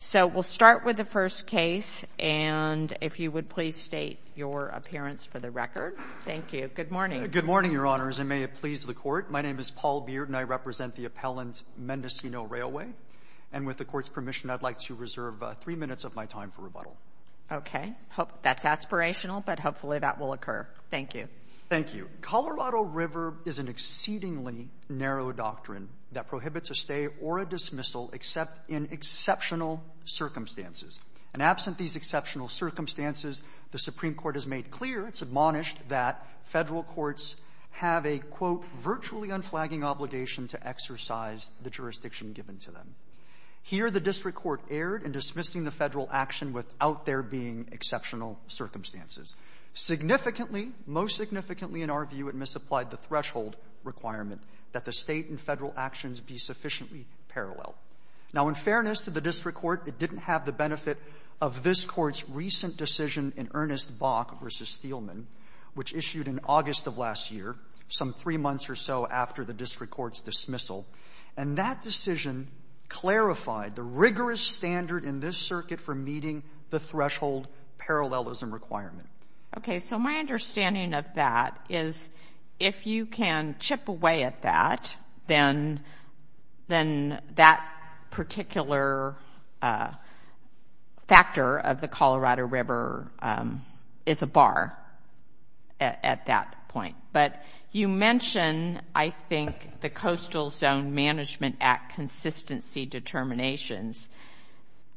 So we'll start with the first case, and if you would please state your appearance for the record. Thank you. Good morning. Good morning, Your Honors, and may it please the Court. My name is Paul Bearden. I represent the appellant Mendocino Railway, and with the Court's permission, I'd like to reserve three minutes of my time for rebuttal. Okay. That's aspirational, but hopefully that will occur. Thank you. Thank you. Colorado River is an exceedingly narrow doctrine that prohibits a stay or a dismissal except in exceptional circumstances. And absent these exceptional circumstances, the Supreme Court has made clear, it's admonished, that Federal courts have a, quote, virtually unflagging obligation to exercise the jurisdiction given to them. Here the district court erred in dismissing the Federal action without there being exceptional circumstances. Significantly, most significantly, in our view, it misapplied the threshold requirement that the State and Federal actions be sufficiently parallel. Now, in fairness to the district court, it didn't have the benefit of this Court's recent decision in Ernest Bach v. Steeleman, which issued in August of last year, some three months or so after the district court's dismissal. And that decision clarified the rigorous standard in this circuit for meeting the threshold parallelism requirement. Okay. So my understanding of that is, if you can chip away at that, then that particular factor of the Colorado River is a bar at that point. But you mention, I think, the Coastal Zone Management Act consistency determinations.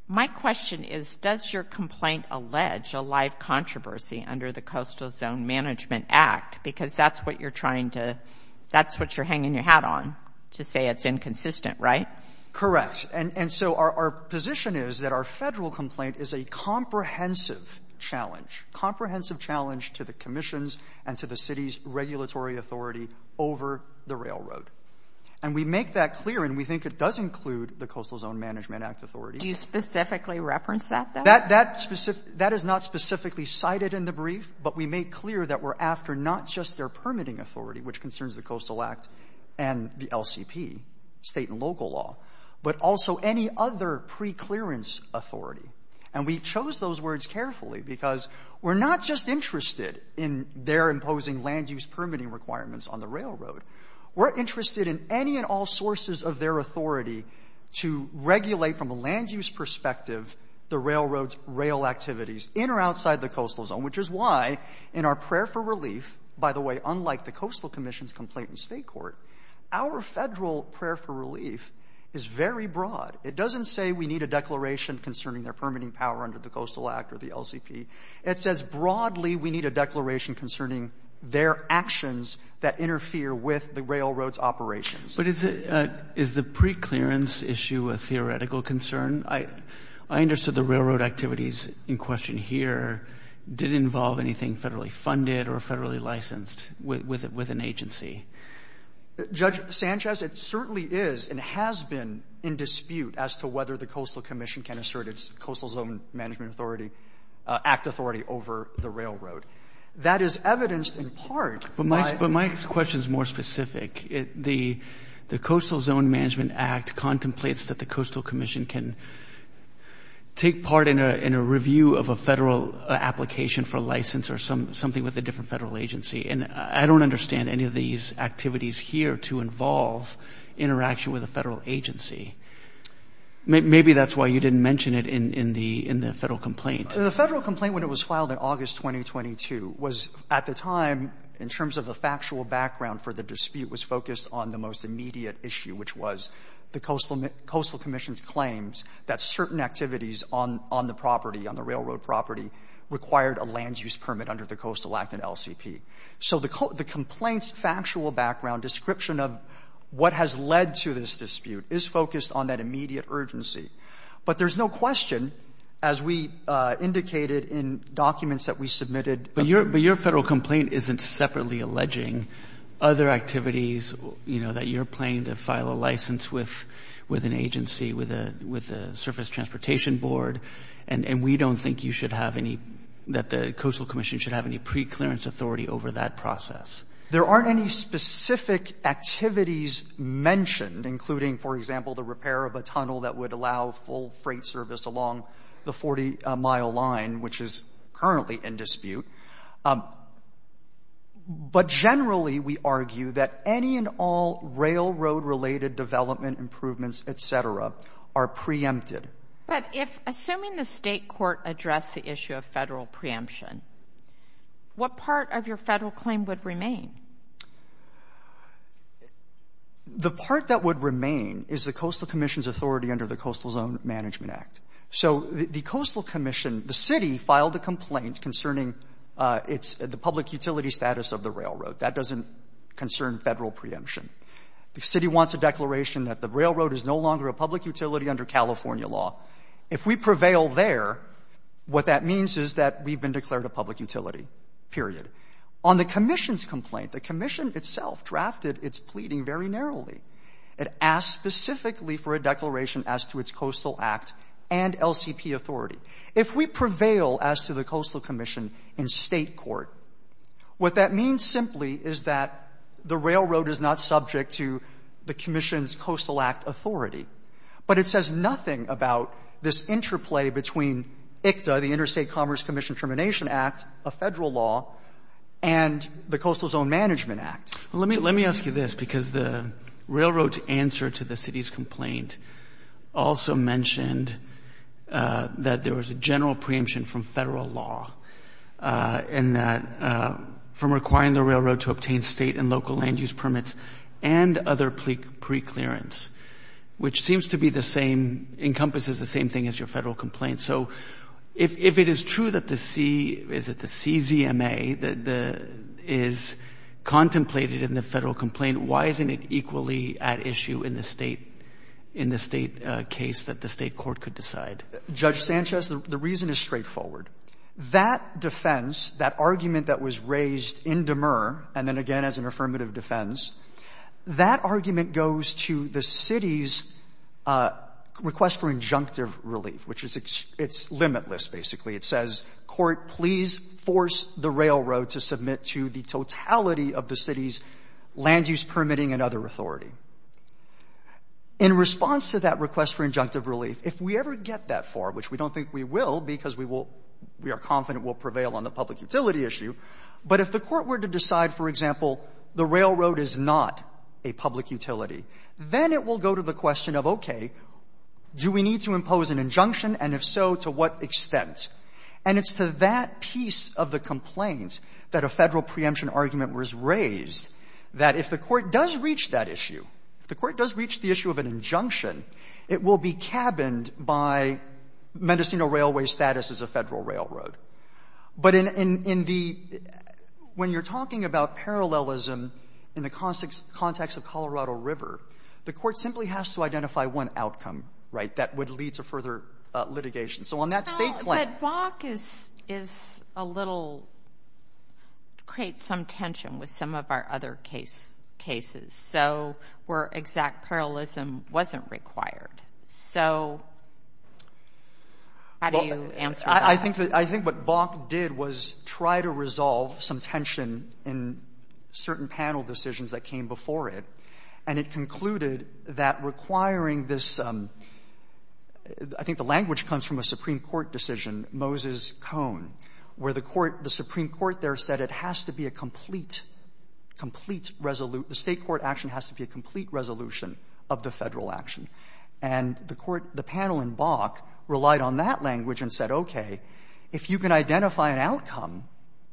My question is, does your complaint allege a live controversy under the Coastal Zone Management Act? Because that's what you're trying to — that's what you're hanging your hat on, to say it's inconsistent, right? Correct. And so our position is that our Federal complaint is a comprehensive challenge, comprehensive challenge to the commissions and to the city's regulatory authority over the railroad. And we make that clear, and we think it does include the Coastal Zone Management Act authority. Do you specifically reference that, though? That is not specifically cited in the brief, but we make clear that we're after not just their permitting authority, which concerns the Coastal Act and the LCP, State and local law, but also any other preclearance authority. And we chose those words carefully because we're not just interested in their imposing land-use permitting requirements on the railroad. We're interested in any and all sources of their authority to regulate, from a land-use perspective, the railroad's rail activities in or outside the Coastal Zone, which is why in our prayer for relief — by the way, unlike the Coastal Commission's complaint in State court, our Federal prayer for relief is very broad. It doesn't say we need a declaration concerning their permitting power under the Coastal Act or the LCP. It says broadly we need a declaration concerning their actions that interfere with the railroad's operations. But is the preclearance issue a theoretical concern? I understood the railroad activities in question here didn't involve anything federally funded or federally licensed with an agency. Judge Sanchez, it certainly is and has been in dispute as to whether the Coastal Commission has any authority — act authority over the railroad. That is evidenced in part by — But my question is more specific. The Coastal Zone Management Act contemplates that the Coastal Commission can take part in a review of a federal application for license or something with a different federal agency. And I don't understand any of these activities here to involve interaction with a federal agency. Maybe that's why you didn't mention it in the federal complaint. The federal complaint, when it was filed in August 2022, was at the time, in terms of the factual background for the dispute, was focused on the most immediate issue, which was the Coastal Commission's claims that certain activities on the property, on the railroad property, required a land use permit under the Coastal Act and LCP. So the complaint's factual background description of what has led to this dispute is focused on that immediate urgency. But there's no question, as we indicated in documents that we submitted — But your — but your federal complaint isn't separately alleging other activities, you know, that you're planning to file a license with an agency, with a surface transportation board, and we don't think you should have any — that the Coastal Commission should have any preclearance authority over that process. There aren't any specific activities mentioned, including, for example, the repair of a tunnel that would allow full freight service along the 40-mile line, which is currently in dispute. But generally, we argue that any and all railroad-related development improvements, et cetera, are preempted. But if — assuming the State court addressed the issue of federal preemption, what part of your federal claim would remain? The part that would remain is the Coastal Commission's authority under the Coastal Zone Management Act. So the Coastal Commission — the City filed a complaint concerning its — the public utility status of the railroad. That doesn't concern federal preemption. The City wants a declaration that the railroad is no longer a public utility under California law. If we prevail there, what that means is that we've been declared a public utility, period. On the Commission's complaint, the Commission itself drafted its pleading very narrowly. It asked specifically for a declaration as to its Coastal Act and LCP authority. If we prevail as to the Coastal Commission in State court, what that means simply is that the railroad is not subject to the Commission's Coastal Act authority, but it says nothing about this interplay between ICTA, the Interstate Commerce Commission Termination Act, a federal law, and the Coastal Zone Management Act. Let me — let me ask you this, because the railroad's answer to the City's complaint also mentioned that there was a general preemption from federal law in that — from requiring the railroad to obtain State and local land use permits and other preclearance, which seems to be the same — encompasses the same thing as your federal complaint. So if it is true that the C — is it the CZMA that is contemplated in the federal complaint, why isn't it equally at issue in the State — in the State case that the State court could decide? Judge Sanchez, the reason is straightforward. That defense, that argument that was raised in Demur, and then again as an affirmative defense, that argument goes to the City's request for injunctive relief, which is — it's limitless, basically. It says, Court, please force the railroad to submit to the totality of the City's land use permitting and other authority. In response to that request for injunctive relief, if we ever get that far, which we don't think we will, because we will — we are confident we'll prevail on the public utility, then it will go to the question of, okay, do we need to impose an injunction? And if so, to what extent? And it's to that piece of the complaint that a Federal preemption argument was raised, that if the Court does reach that issue, if the Court does reach the issue of an injunction, it will be cabined by Mendocino Railway's status as a Federal railroad. But in the — when you're talking about parallelism in the context of Colorado River, the Court simply has to identify one outcome, right, that would lead to further litigation. So on that state plan — Well, but Bach is a little — creates some tension with some of our other cases, so where exact parallelism wasn't required. So how do you answer that? I think that — I think what Bach did was try to resolve some tension in certain panel decisions that came before it, and it concluded that requiring this — I think the language comes from a Supreme Court decision, Moses-Cohen, where the Court — the Supreme Court there said it has to be a complete — complete — the State court action has to be a complete resolution of the Federal action. And the Court — the panel in Bach relied on that language and said, okay, if you can identify an outcome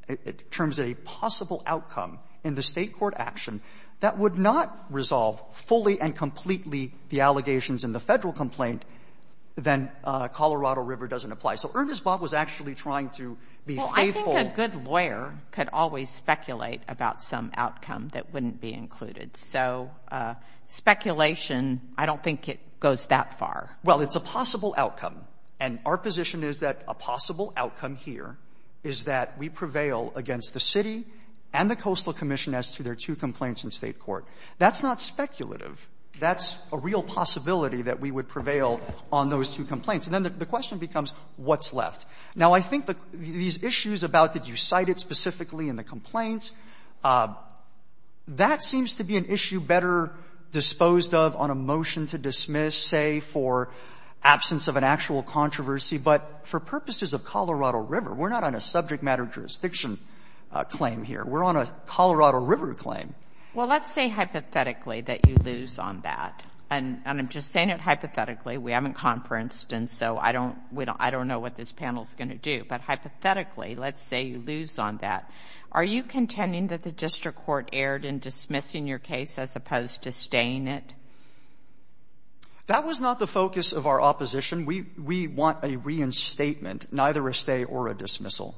in terms of a possible outcome in the State court action that would not resolve fully and completely the allegations in the Federal complaint, then Colorado River doesn't apply. So Ernest Bach was actually trying to be faithful — Well, I think a good lawyer could always speculate about some outcome that wouldn't be included. So speculation, I don't think it goes that far. Well, it's a possible outcome, and our position is that a possible outcome here is that we prevail against the City and the Coastal Commission as to their two complaints in State court. That's not speculative. That's a real possibility that we would prevail on those two complaints. And then the question becomes, what's left? Now, I think these issues about did you cite it specifically in the complaints, that seems to be an issue better disposed of on a motion to dismiss, say, for absence of an actual controversy, but for purposes of Colorado River. We're not on a subject matter jurisdiction claim here. We're on a Colorado River claim. Well, let's say hypothetically that you lose on that, and I'm just saying it hypothetically. We haven't conferenced, and so I don't know what this panel is going to do. But hypothetically, let's say you lose on that. Are you contending that the district court erred in dismissing your case as opposed to staying it? That was not the focus of our opposition. We want a reinstatement, neither a stay or a dismissal.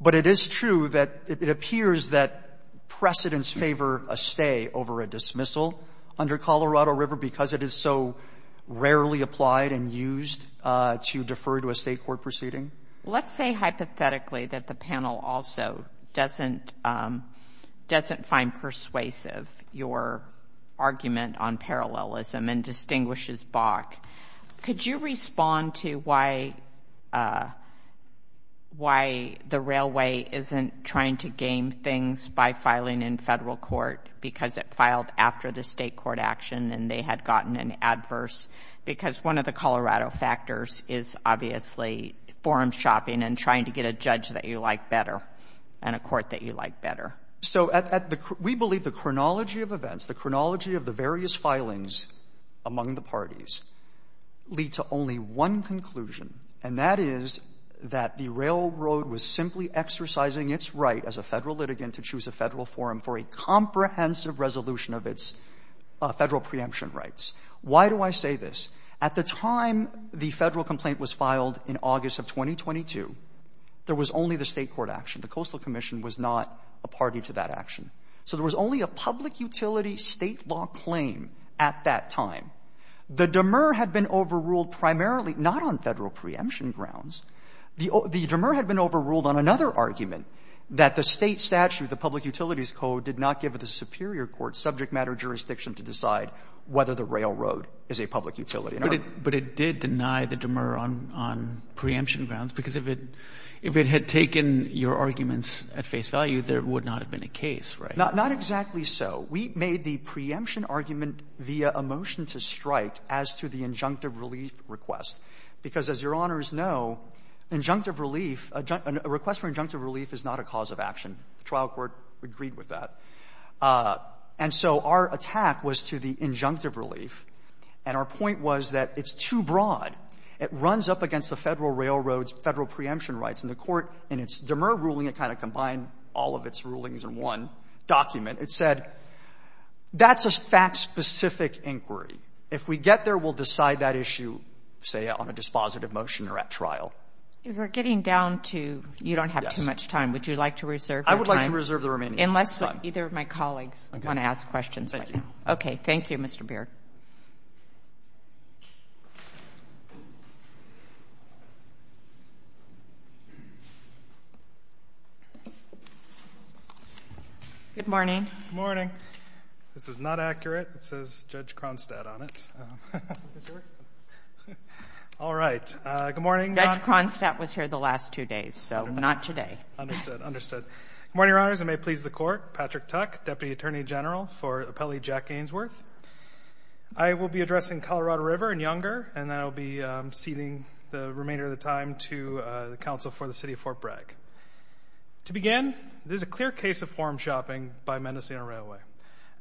But it is true that it appears that precedents favor a stay over a dismissal under Colorado River because it is so rarely applied and used to defer to a State court proceeding. Let's say hypothetically that the panel also doesn't find persuasive your argument on parallelism and distinguishes Bach. Could you respond to why the railway isn't trying to gain things by filing in federal court because it filed after the State court action and they had gotten an adverse? Because one of the Colorado factors is obviously forum shopping and trying to get a judge that you like better and a court that you like better. So we believe the chronology of events, the chronology of the various filings among the parties lead to only one conclusion, and that is that the railroad was simply exercising its right as a federal litigant to choose a federal forum for a comprehensive resolution of its federal preemption rights. Why do I say this? At the time the Federal complaint was filed in August of 2022, there was only the State court action. The Coastal Commission was not a party to that action. So there was only a public utility State law claim at that time. The demer had been overruled primarily not on Federal preemption grounds. The demer had been overruled on another argument, that the State statute, the public utilities code, did not give the superior court subject matter jurisdiction to decide whether the railroad is a public utility. And our ---- Roberts. But it did deny the demer on preemption grounds, because if it had taken your arguments at face value, there would not have been a case, right? Not exactly so. We made the preemption argument via a motion to strike as to the injunctive relief request. Because as Your Honors know, injunctive relief, a request for injunctive relief is not a cause of action. The trial court agreed with that. And so our attack was to the injunctive relief. And our point was that it's too broad. It runs up against the Federal railroad's Federal preemption rights. And the Court, in its demer ruling, it kind of combined all of its rulings in one document. It said that's a fact-specific inquiry. If we get there, we'll decide that issue, say, on a dispositive motion or at trial. If we're getting down to you don't have too much time, would you like to reserve your time? I would like to reserve the remaining time. Unless either of my colleagues want to ask questions. Thank you. Okay. Thank you, Mr. Baird. Good morning. Good morning. This is not accurate. It says Judge Kronstadt on it. All right. Good morning. Judge Kronstadt was here the last two days, so not today. Understood. Understood. Good morning, Your Honors. I may please the Court. Patrick Tuck, Deputy Attorney General for Appellee Jack Gainsworth. I will be addressing Colorado River and Younger, and then I'll be ceding the remainder of the time to the Counsel for the City of Fort Bragg. To begin, this is a clear case of form shopping by Mendocino Railway.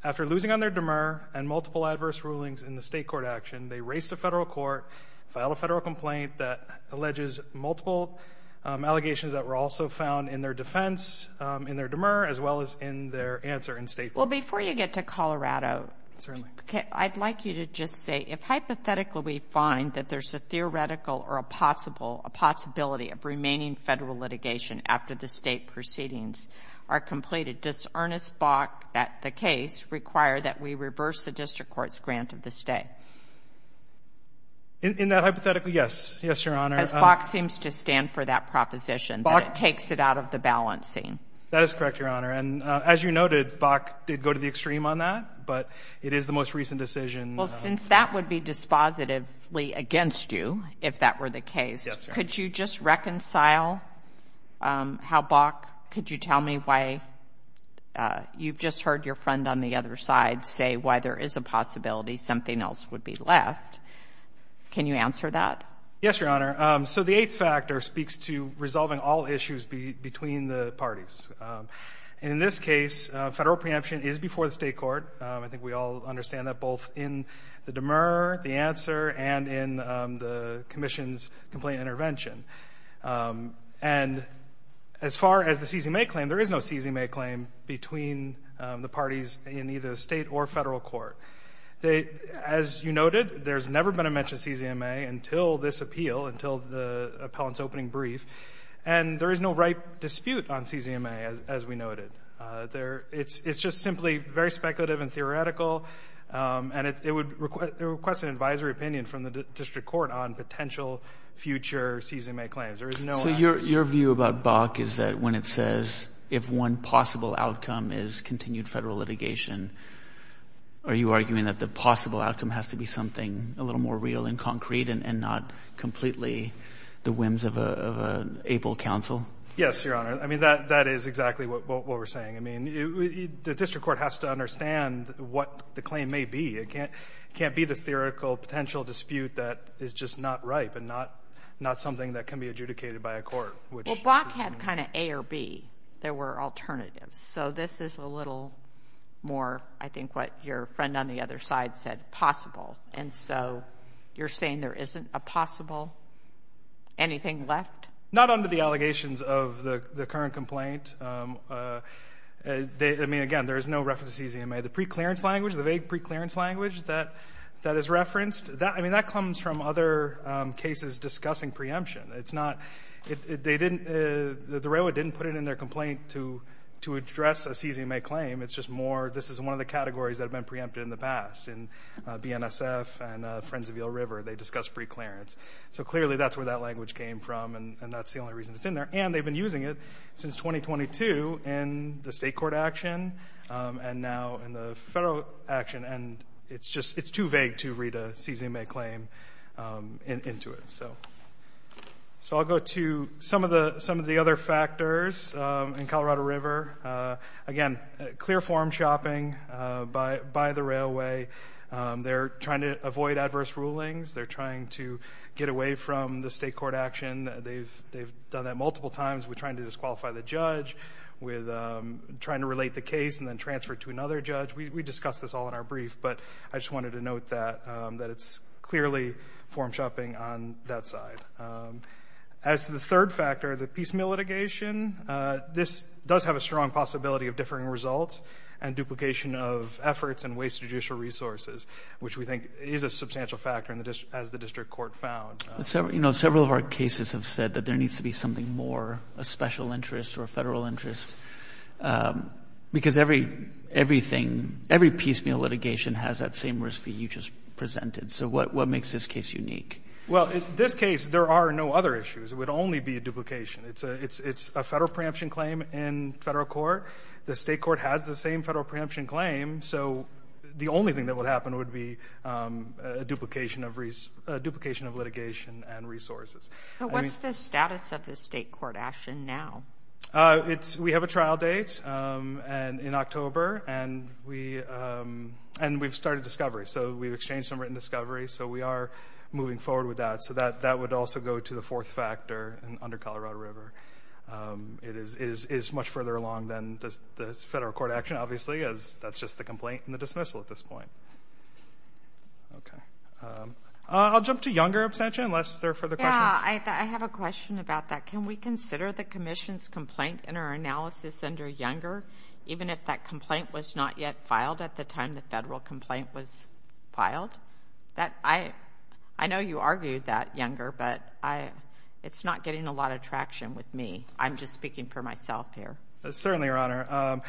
After losing on their demur and multiple adverse rulings in the State Court action, they raced to Federal Court, filed a Federal complaint that alleges multiple allegations that were also found in their defense, in their demur, as well as in their answer in State Court. Well, before you get to Colorado, I'd like you to just say, if hypothetically we find that there's a theoretical or a possibility of remaining Federal litigation after the State proceedings are completed, does Ernest Bach at the case require that we reverse the District Court's grant of the stay? In that hypothetical, yes. Yes, Your Honor. As Bach seems to stand for that proposition, Bach takes it out of the balancing. That is correct, Your Honor. And as you noted, Bach did go to the extreme on that. But it is the most recent decision. Well, since that would be dispositively against you, if that were the case, could you just reconcile how Bach, could you tell me why you've just heard your friend on the other side say why there is a possibility something else would be left? Can you answer that? Yes, Your Honor. So the eighth factor speaks to resolving all issues between the parties. In this case, Federal preemption is before the State Court. I think we all understand that both in the demur, the answer, and in the Commission's complaint intervention. And as far as the CZMA claim, there is no CZMA claim between the parties in either State or Federal court. As you noted, there's never been a mention of CZMA until this appeal, until the appellant's opening brief. And there is no right dispute on CZMA, as we noted. It's just simply very speculative and theoretical. And it would request an advisory opinion from the District Court on potential future CZMA claims. There is no... So your view about Bach is that when it says, if one possible outcome is continued Federal litigation, are you arguing that the possible outcome has to be something a little more real and concrete and not completely the whims of an able counsel? Yes, Your Honor. I mean, that is exactly what we're saying. I mean, the District Court has to understand what the claim may be. It can't be this theoretical potential dispute that is just not ripe and not something that can be adjudicated by a court, which... Well, Bach had kind of A or B. There were alternatives. So this is a little more, I think, what your friend on the other side said, possible. And so you're saying there isn't a possible anything left? Not under the allegations of the current complaint. I mean, again, there is no reference to CZMA. The preclearance language, the vague preclearance language that is referenced, I mean, that comes from other cases discussing preemption. It's not... They didn't... The Railroad didn't put it in their complaint to address a CZMA claim. It's just more... This is one of the categories that have been preempted in the past. In BNSF and Friends of Yale River, they discussed preclearance. So clearly, that's where that language came from and that's the only reason it's in there. And they've been using it since 2022 in the state court action and now in the federal action. And it's just... It's too vague to read a CZMA claim into it. So I'll go to some of the other factors in Colorado River. Again, clear form shopping by the railway. They're trying to avoid adverse rulings. They're trying to get away from the state court action. They've done that multiple times with trying to disqualify the judge, with trying to relate the case and then transfer it to another judge. We discussed this all in our brief, but I just wanted to note that it's clearly form shopping on that side. As to the third factor, the piecemeal litigation, this does have a strong possibility of differing results and duplication of efforts and wasted judicial resources, which we think is a substantial factor as the district court found. Several of our cases have said that there needs to be something more, a special interest or a federal interest, because everything, every piecemeal litigation has that same risk that you just presented. So what makes this case unique? Well, in this case, there are no other issues. It would only be a duplication. It's a federal preemption claim in federal court. The state court has the same federal preemption claim, so the only thing that would happen would be a duplication of litigation and resources. But what's the status of the state court action now? We have a trial date in October, and we've started discovery. So we've exchanged some written discovery. So we are moving forward with that. So that would also go to the fourth factor under Colorado River. It is much further along than the federal court action, obviously, as that's just the complaint and the dismissal at this point. Okay. I'll jump to Younger abstention, unless there are further questions. Yeah, I have a question about that. Can we consider the commission's complaint in our analysis under Younger, even if that complaint was not yet filed at the time the federal complaint was filed? I know you argued that, Younger, but it's not getting a lot of traction with me. I'm just speaking for myself here. Certainly, Your Honor.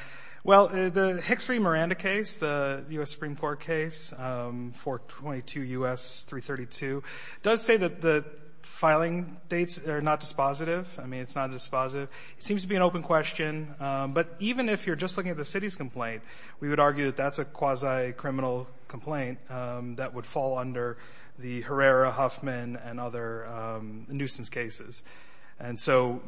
Well, the Hicks v. Miranda case, the U.S. Supreme Court case, 422 U.S. 332, does say that the filing dates are not dispositive. I mean, it's not dispositive. It seems to be an open question. But even if you're just looking at the city's complaint, we would argue that that's a quasi-criminal complaint that would fall under the Herrera-Huffman and other nuisance cases. And so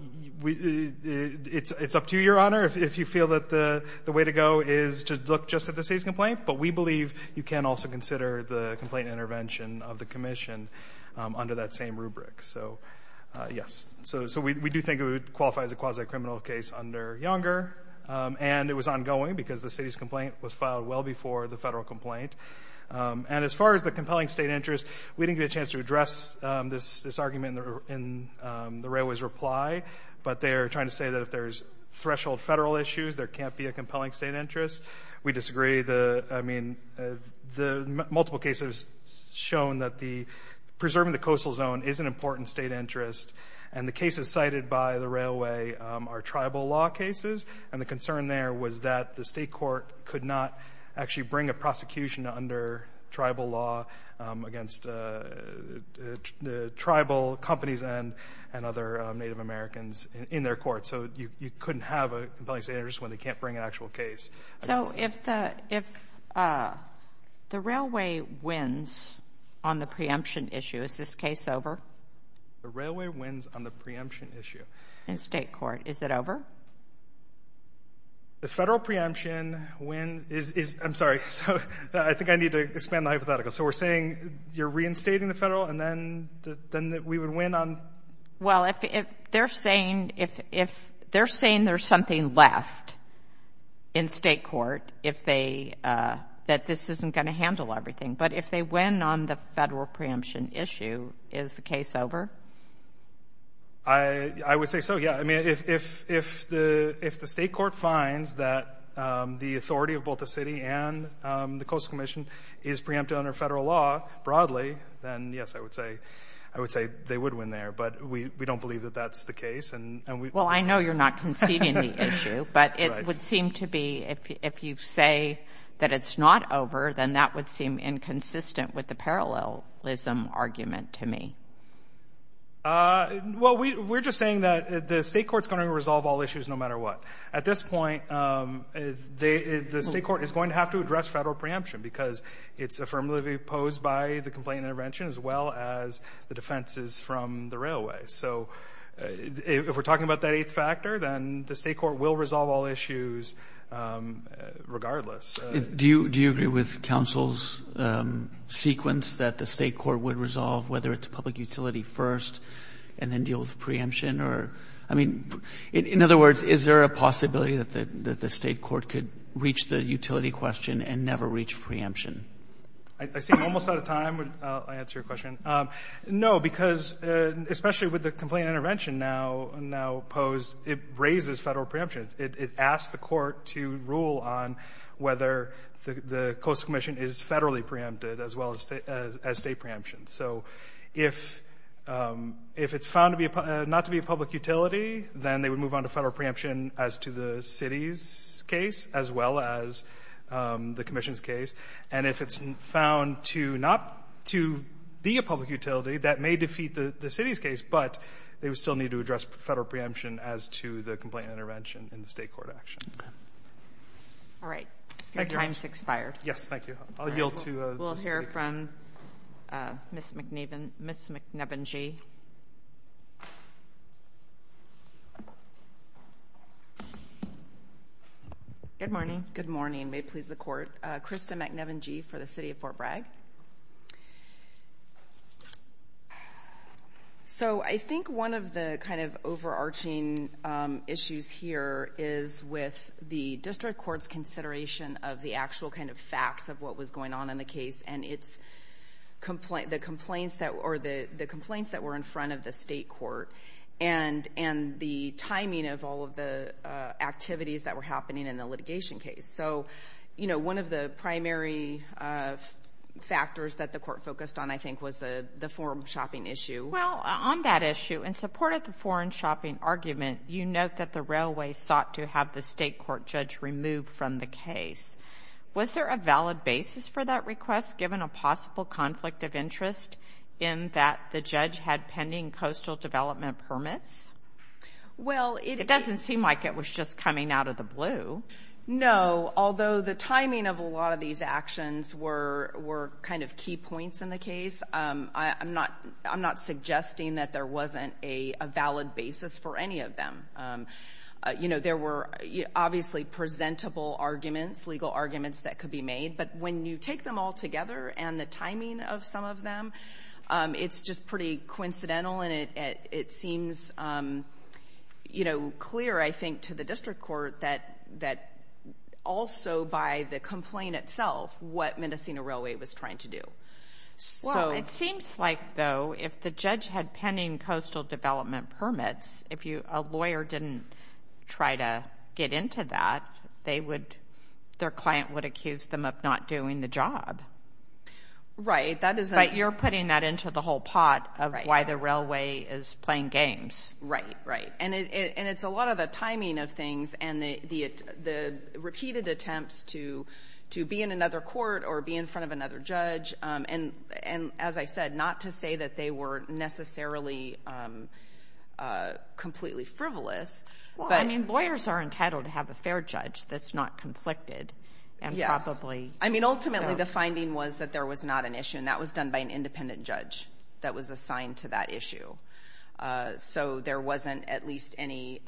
it's up to you, Your Honor, if you feel that the way to go is to look just at the city's complaint. But we believe you can also consider the complaint intervention of the commission under that same rubric. So, yes. So we do think it would qualify as a quasi-criminal case under Younger. And it was ongoing because the city's complaint was filed well before the federal complaint. And as far as the compelling state interest, we didn't get a chance to address this argument in the Railway's reply. But they are trying to say that if there's threshold federal issues, there can't be a compelling state interest. We disagree. I mean, the multiple cases shown that preserving the coastal zone is an important state interest. And the cases cited by the Railway are tribal law cases. And the concern there was that the state court could not actually bring a prosecution under tribal law against the tribal companies and other Native Americans in their court. So you couldn't have a compelling state interest when they can't bring an actual case. So if the Railway wins on the preemption issue, is this case over? The Railway wins on the preemption issue. In state court, is it over? The federal preemption win is... I'm sorry. I think I need to expand the hypothetical. So we're saying you're reinstating the federal, and then we would win on... Well, if they're saying there's something left in state court, that this isn't going to handle everything. But if they win on the federal preemption issue, is the case over? I would say so, yeah. I mean, if the state court finds that the authority of both the city and the Coastal Commission is preempted under federal law broadly, then yes, I would say they would win there. But we don't believe that that's the case. Well, I know you're not conceding the issue, but it would seem to be, if you say that it's not over, then that would seem inconsistent with the parallelism argument to me. Well, we're just saying that the state court's going to resolve all issues no matter what. At this point, the state court is going to have to address federal preemption because it's affirmatively opposed by the complaint intervention as well as the defenses from the Railway. So if we're talking about that eighth factor, then the state court will resolve all issues regardless. Do you agree with counsel's sequence that the state court would resolve whether it's public utility first and then deal with preemption? Or, I mean, in other words, is there a possibility that the state court could reach the utility question and never reach preemption? I seem almost out of time. I'll answer your question. No, because especially with the complaint intervention now opposed, it raises federal preemption. It asks the court to rule on whether the Coastal Commission is federally preempted as well as state preemption. So if it's found not to be a public utility, then they would move on to federal preemption as to the city's case as well as the commission's case. And if it's found not to be a public utility, that may defeat the city's case, but they would still need to address federal preemption as to the complaint intervention in the state court action. Okay. All right. Your time's expired. Yes, thank you. I'll yield to the state. We'll hear from Ms. McNiven. Ms. McNiven-G. Good morning. Good morning. May it please the court. Krista McNiven-G for the city of Fort Bragg. So I think one of the kind of overarching issues here is with the district court's consideration of the actual kind of facts of what was going on in the case and the complaints that were in front of the state court and the timing of all of the activities that were happening in the litigation case. So, you know, one of the primary factors that the court focused on I think was the foreign shopping issue. Well, on that issue, in support of the foreign shopping argument, you note that the railway sought to have the state court judge removed from the case. Was there a valid basis for that request given a possible conflict of interest in that the judge had pending coastal development permits? Well, it doesn't seem like it was just coming out of the blue. No, although the timing of a lot of these actions were kind of key points in the case. I'm not suggesting that there wasn't a valid basis for any of them. You know, there were obviously presentable arguments, legal arguments that could be made, but when you take them all together and the timing of some of them, it's just pretty coincidental and it seems, you know, clear, I think, to the district court that also by the complaint itself what Mendocino Railway was trying to do. Well, it seems like, though, if the judge had pending coastal development permits, if a lawyer didn't try to get into that, they would, their client would accuse them of not doing the job. Right, that is. But you're putting that into the whole pot of why the railway is playing games. Right, right. And it's a lot of the timing of things and the repeated attempts to be in another court or be in front of another judge. And as I said, not to say that they were necessarily completely frivolous. Well, I mean, lawyers are entitled to have a fair judge that's not conflicted and probably. I mean, ultimately, the finding was that there was not an issue and that was done by an independent judge that was assigned to that issue. So there wasn't at least any,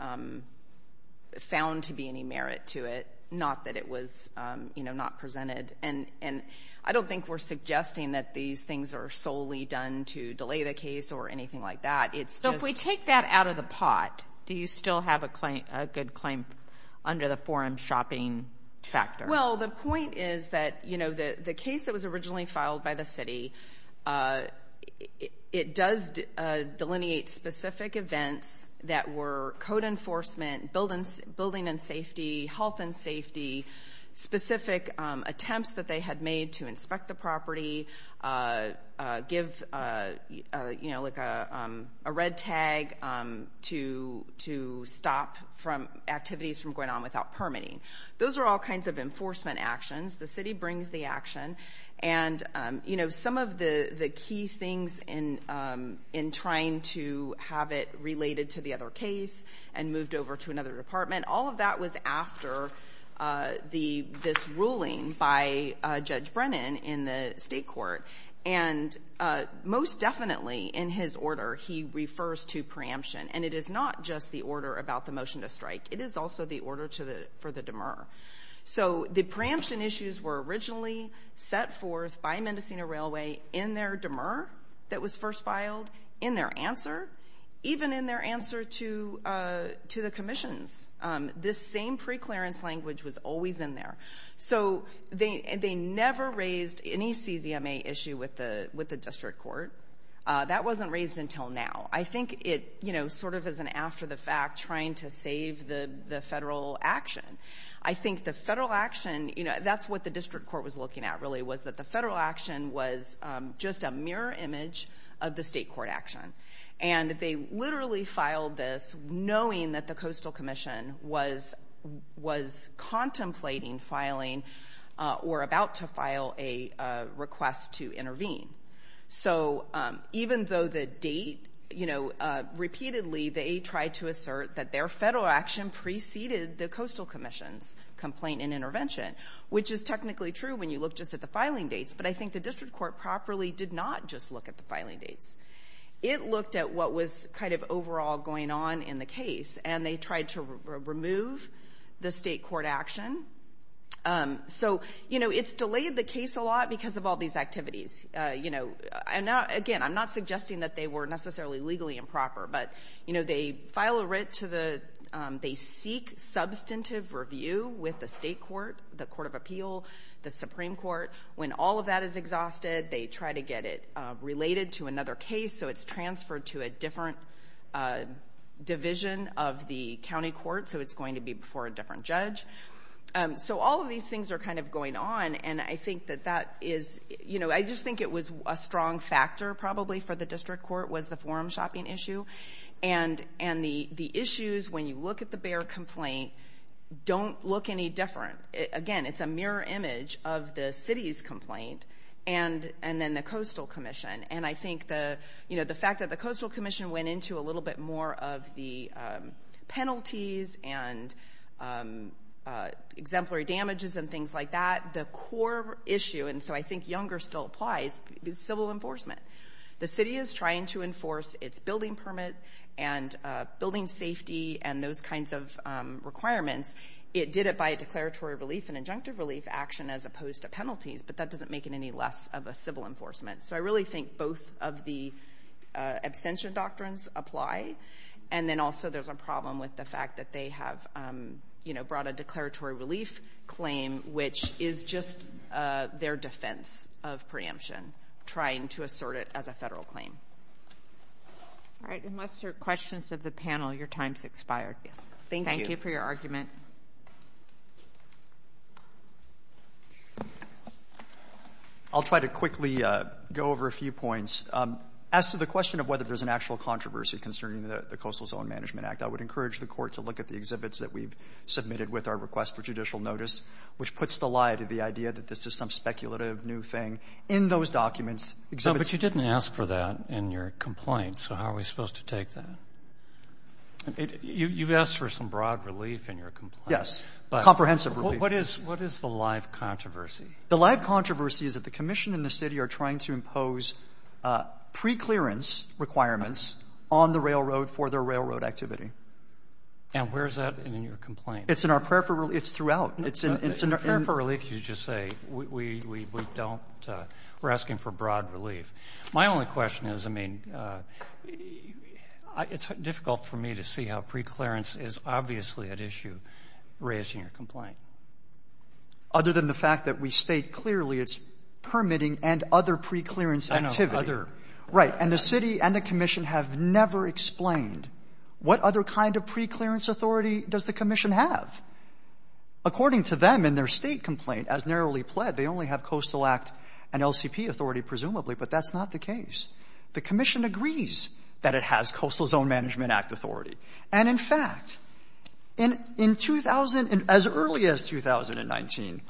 found to be any merit to it, not that it was, you know, not presented. And I don't think we're suggesting that these things are solely done to delay the case or anything like that. It's just. So if we take that out of the pot, do you still have a good claim under the forum shopping factor? Well, the point is that, you know, the case that was originally filed by the city, it does delineate specific events that were code enforcement, building and safety, health and safety, specific attempts that they had made to inspect the property, give, you know, like a red tag to stop activities from going on without permitting. Those are all kinds of enforcement actions. The city brings the action. And, you know, some of the key things in trying to have it related to the other case and moved over to another department, all of that was after this ruling by Judge Brennan in the state court. And most definitely in his order, he refers to preemption. And it is not just the order about the motion to strike. It is also the order for the demur. So the preemption issues were originally set forth by Mendocino Railway in their demur that was first filed, in their answer, even in their answer to the commissions. This same preclearance language was always in there. So they never raised any CZMA issue with the district court. That wasn't raised until now. I think it, you know, sort of is an after the fact trying to save the federal action. I think the federal action, you know, that's what the district court was looking at really, was that the federal action was just a mirror image of the state court action. And they literally filed this knowing that the Coastal Commission was contemplating filing or about to file a request to intervene. So even though the date, you know, repeatedly they tried to assert that their federal action preceded the Coastal Commission's complaint and intervention, which is technically true when you look just at the filing dates, but I think the district court properly did not just look at the filing dates. It looked at what was kind of overall going on in the case, and they tried to remove the state court action. So, you know, it's delayed the case a lot because of all these activities. You know, again, I'm not suggesting that they were necessarily legally improper, but, you know, they file a writ to the, they seek substantive review with the state court, the Court of Appeal, the Supreme Court. When all of that is exhausted, they try to get it related to another case, so it's transferred to a different division of the county court, so it's going to be before a different judge. So all of these things are kind of going on, and I think that that is, you know, I just think it was a strong factor probably for the district court was the forum shopping issue, and the issues, when you look at the Bexar complaint, don't look any different. Again, it's a mirror image of the city's complaint and then the Coastal Commission, and I think the, you know, the fact that the Coastal Commission went into a little bit more of the penalties and exemplary damages and things like that, the core issue, and so I think Younger still applies, is civil enforcement. The city is trying to enforce its building permit and building safety and those kinds of requirements. It did it by a declaratory relief and injunctive relief action as opposed to penalties, but that doesn't make it any less of a civil enforcement. So I really think both of the abstention doctrines apply, and then also there's a problem with the fact that they have, you know, brought a declaratory relief claim, which is just their defense of preemption, trying to assert it as a federal claim. All right, unless there are questions of the panel, your time's expired. Yes, thank you for your argument. I'll try to quickly go over a few points. As to the question of whether there's an actual controversy concerning the Coastal Zone Management Act, I would encourage the court to look at the exhibits that we've submitted with our request for judicial notice, which puts the lie to the idea that this is some speculative new thing. In those documents, exhibits... No, but you didn't ask for that in your complaint, so how are we supposed to take that? You've asked for some broad relief in your complaint. Yes, comprehensive relief. But what is the live controversy? The live controversy is that the commission and the city are trying to impose pre-clearance requirements on the railroad for their railroad activity. And where is that in your complaint? It's in our prayer for relief. It's throughout. Prayer for relief, you just say. We're asking for broad relief. My only question is, I mean, it's difficult for me to see how pre-clearance is obviously at issue raised in your complaint. Other than the fact that we state clearly it's permitting and other pre-clearance activity. I know, other. Right. And the city and the commission have never explained what other kind of pre-clearance authority does the commission have. According to them in their State complaint, as narrowly pled, they only have Coastal Act and LCP authority, presumably, but that's not the case. The commission agrees that it has Coastal Zone Management Act authority. And in fact, in 2000, as early as 2019,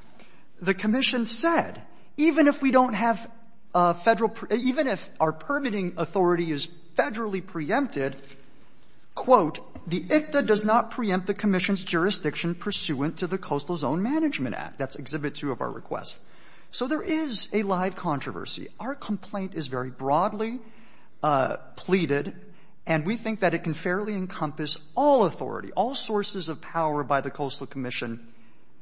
the commission said even if we don't have Federal, even if our permitting authority is Federally preempted, quote, the ICTA does not preempt the commission's jurisdiction pursuant to the Coastal Zone Management Act. That's Exhibit 2 of our request. So there is a live controversy. Our complaint is very broadly pleaded, and we think that it can fairly encompass all authority, all sources of power by the Coastal Commission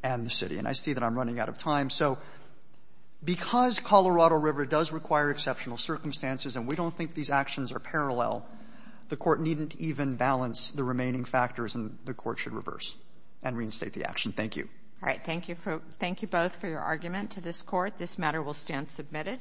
and the city. And I see that I'm running out of time. So because Colorado River does require exceptional circumstances, and we don't think these actions are parallel, the Court needn't even balance the remaining factors, and the Court should reverse and reinstate the action. Thank you. All right. Thank you for the argument to this Court. This matter will stand submitted.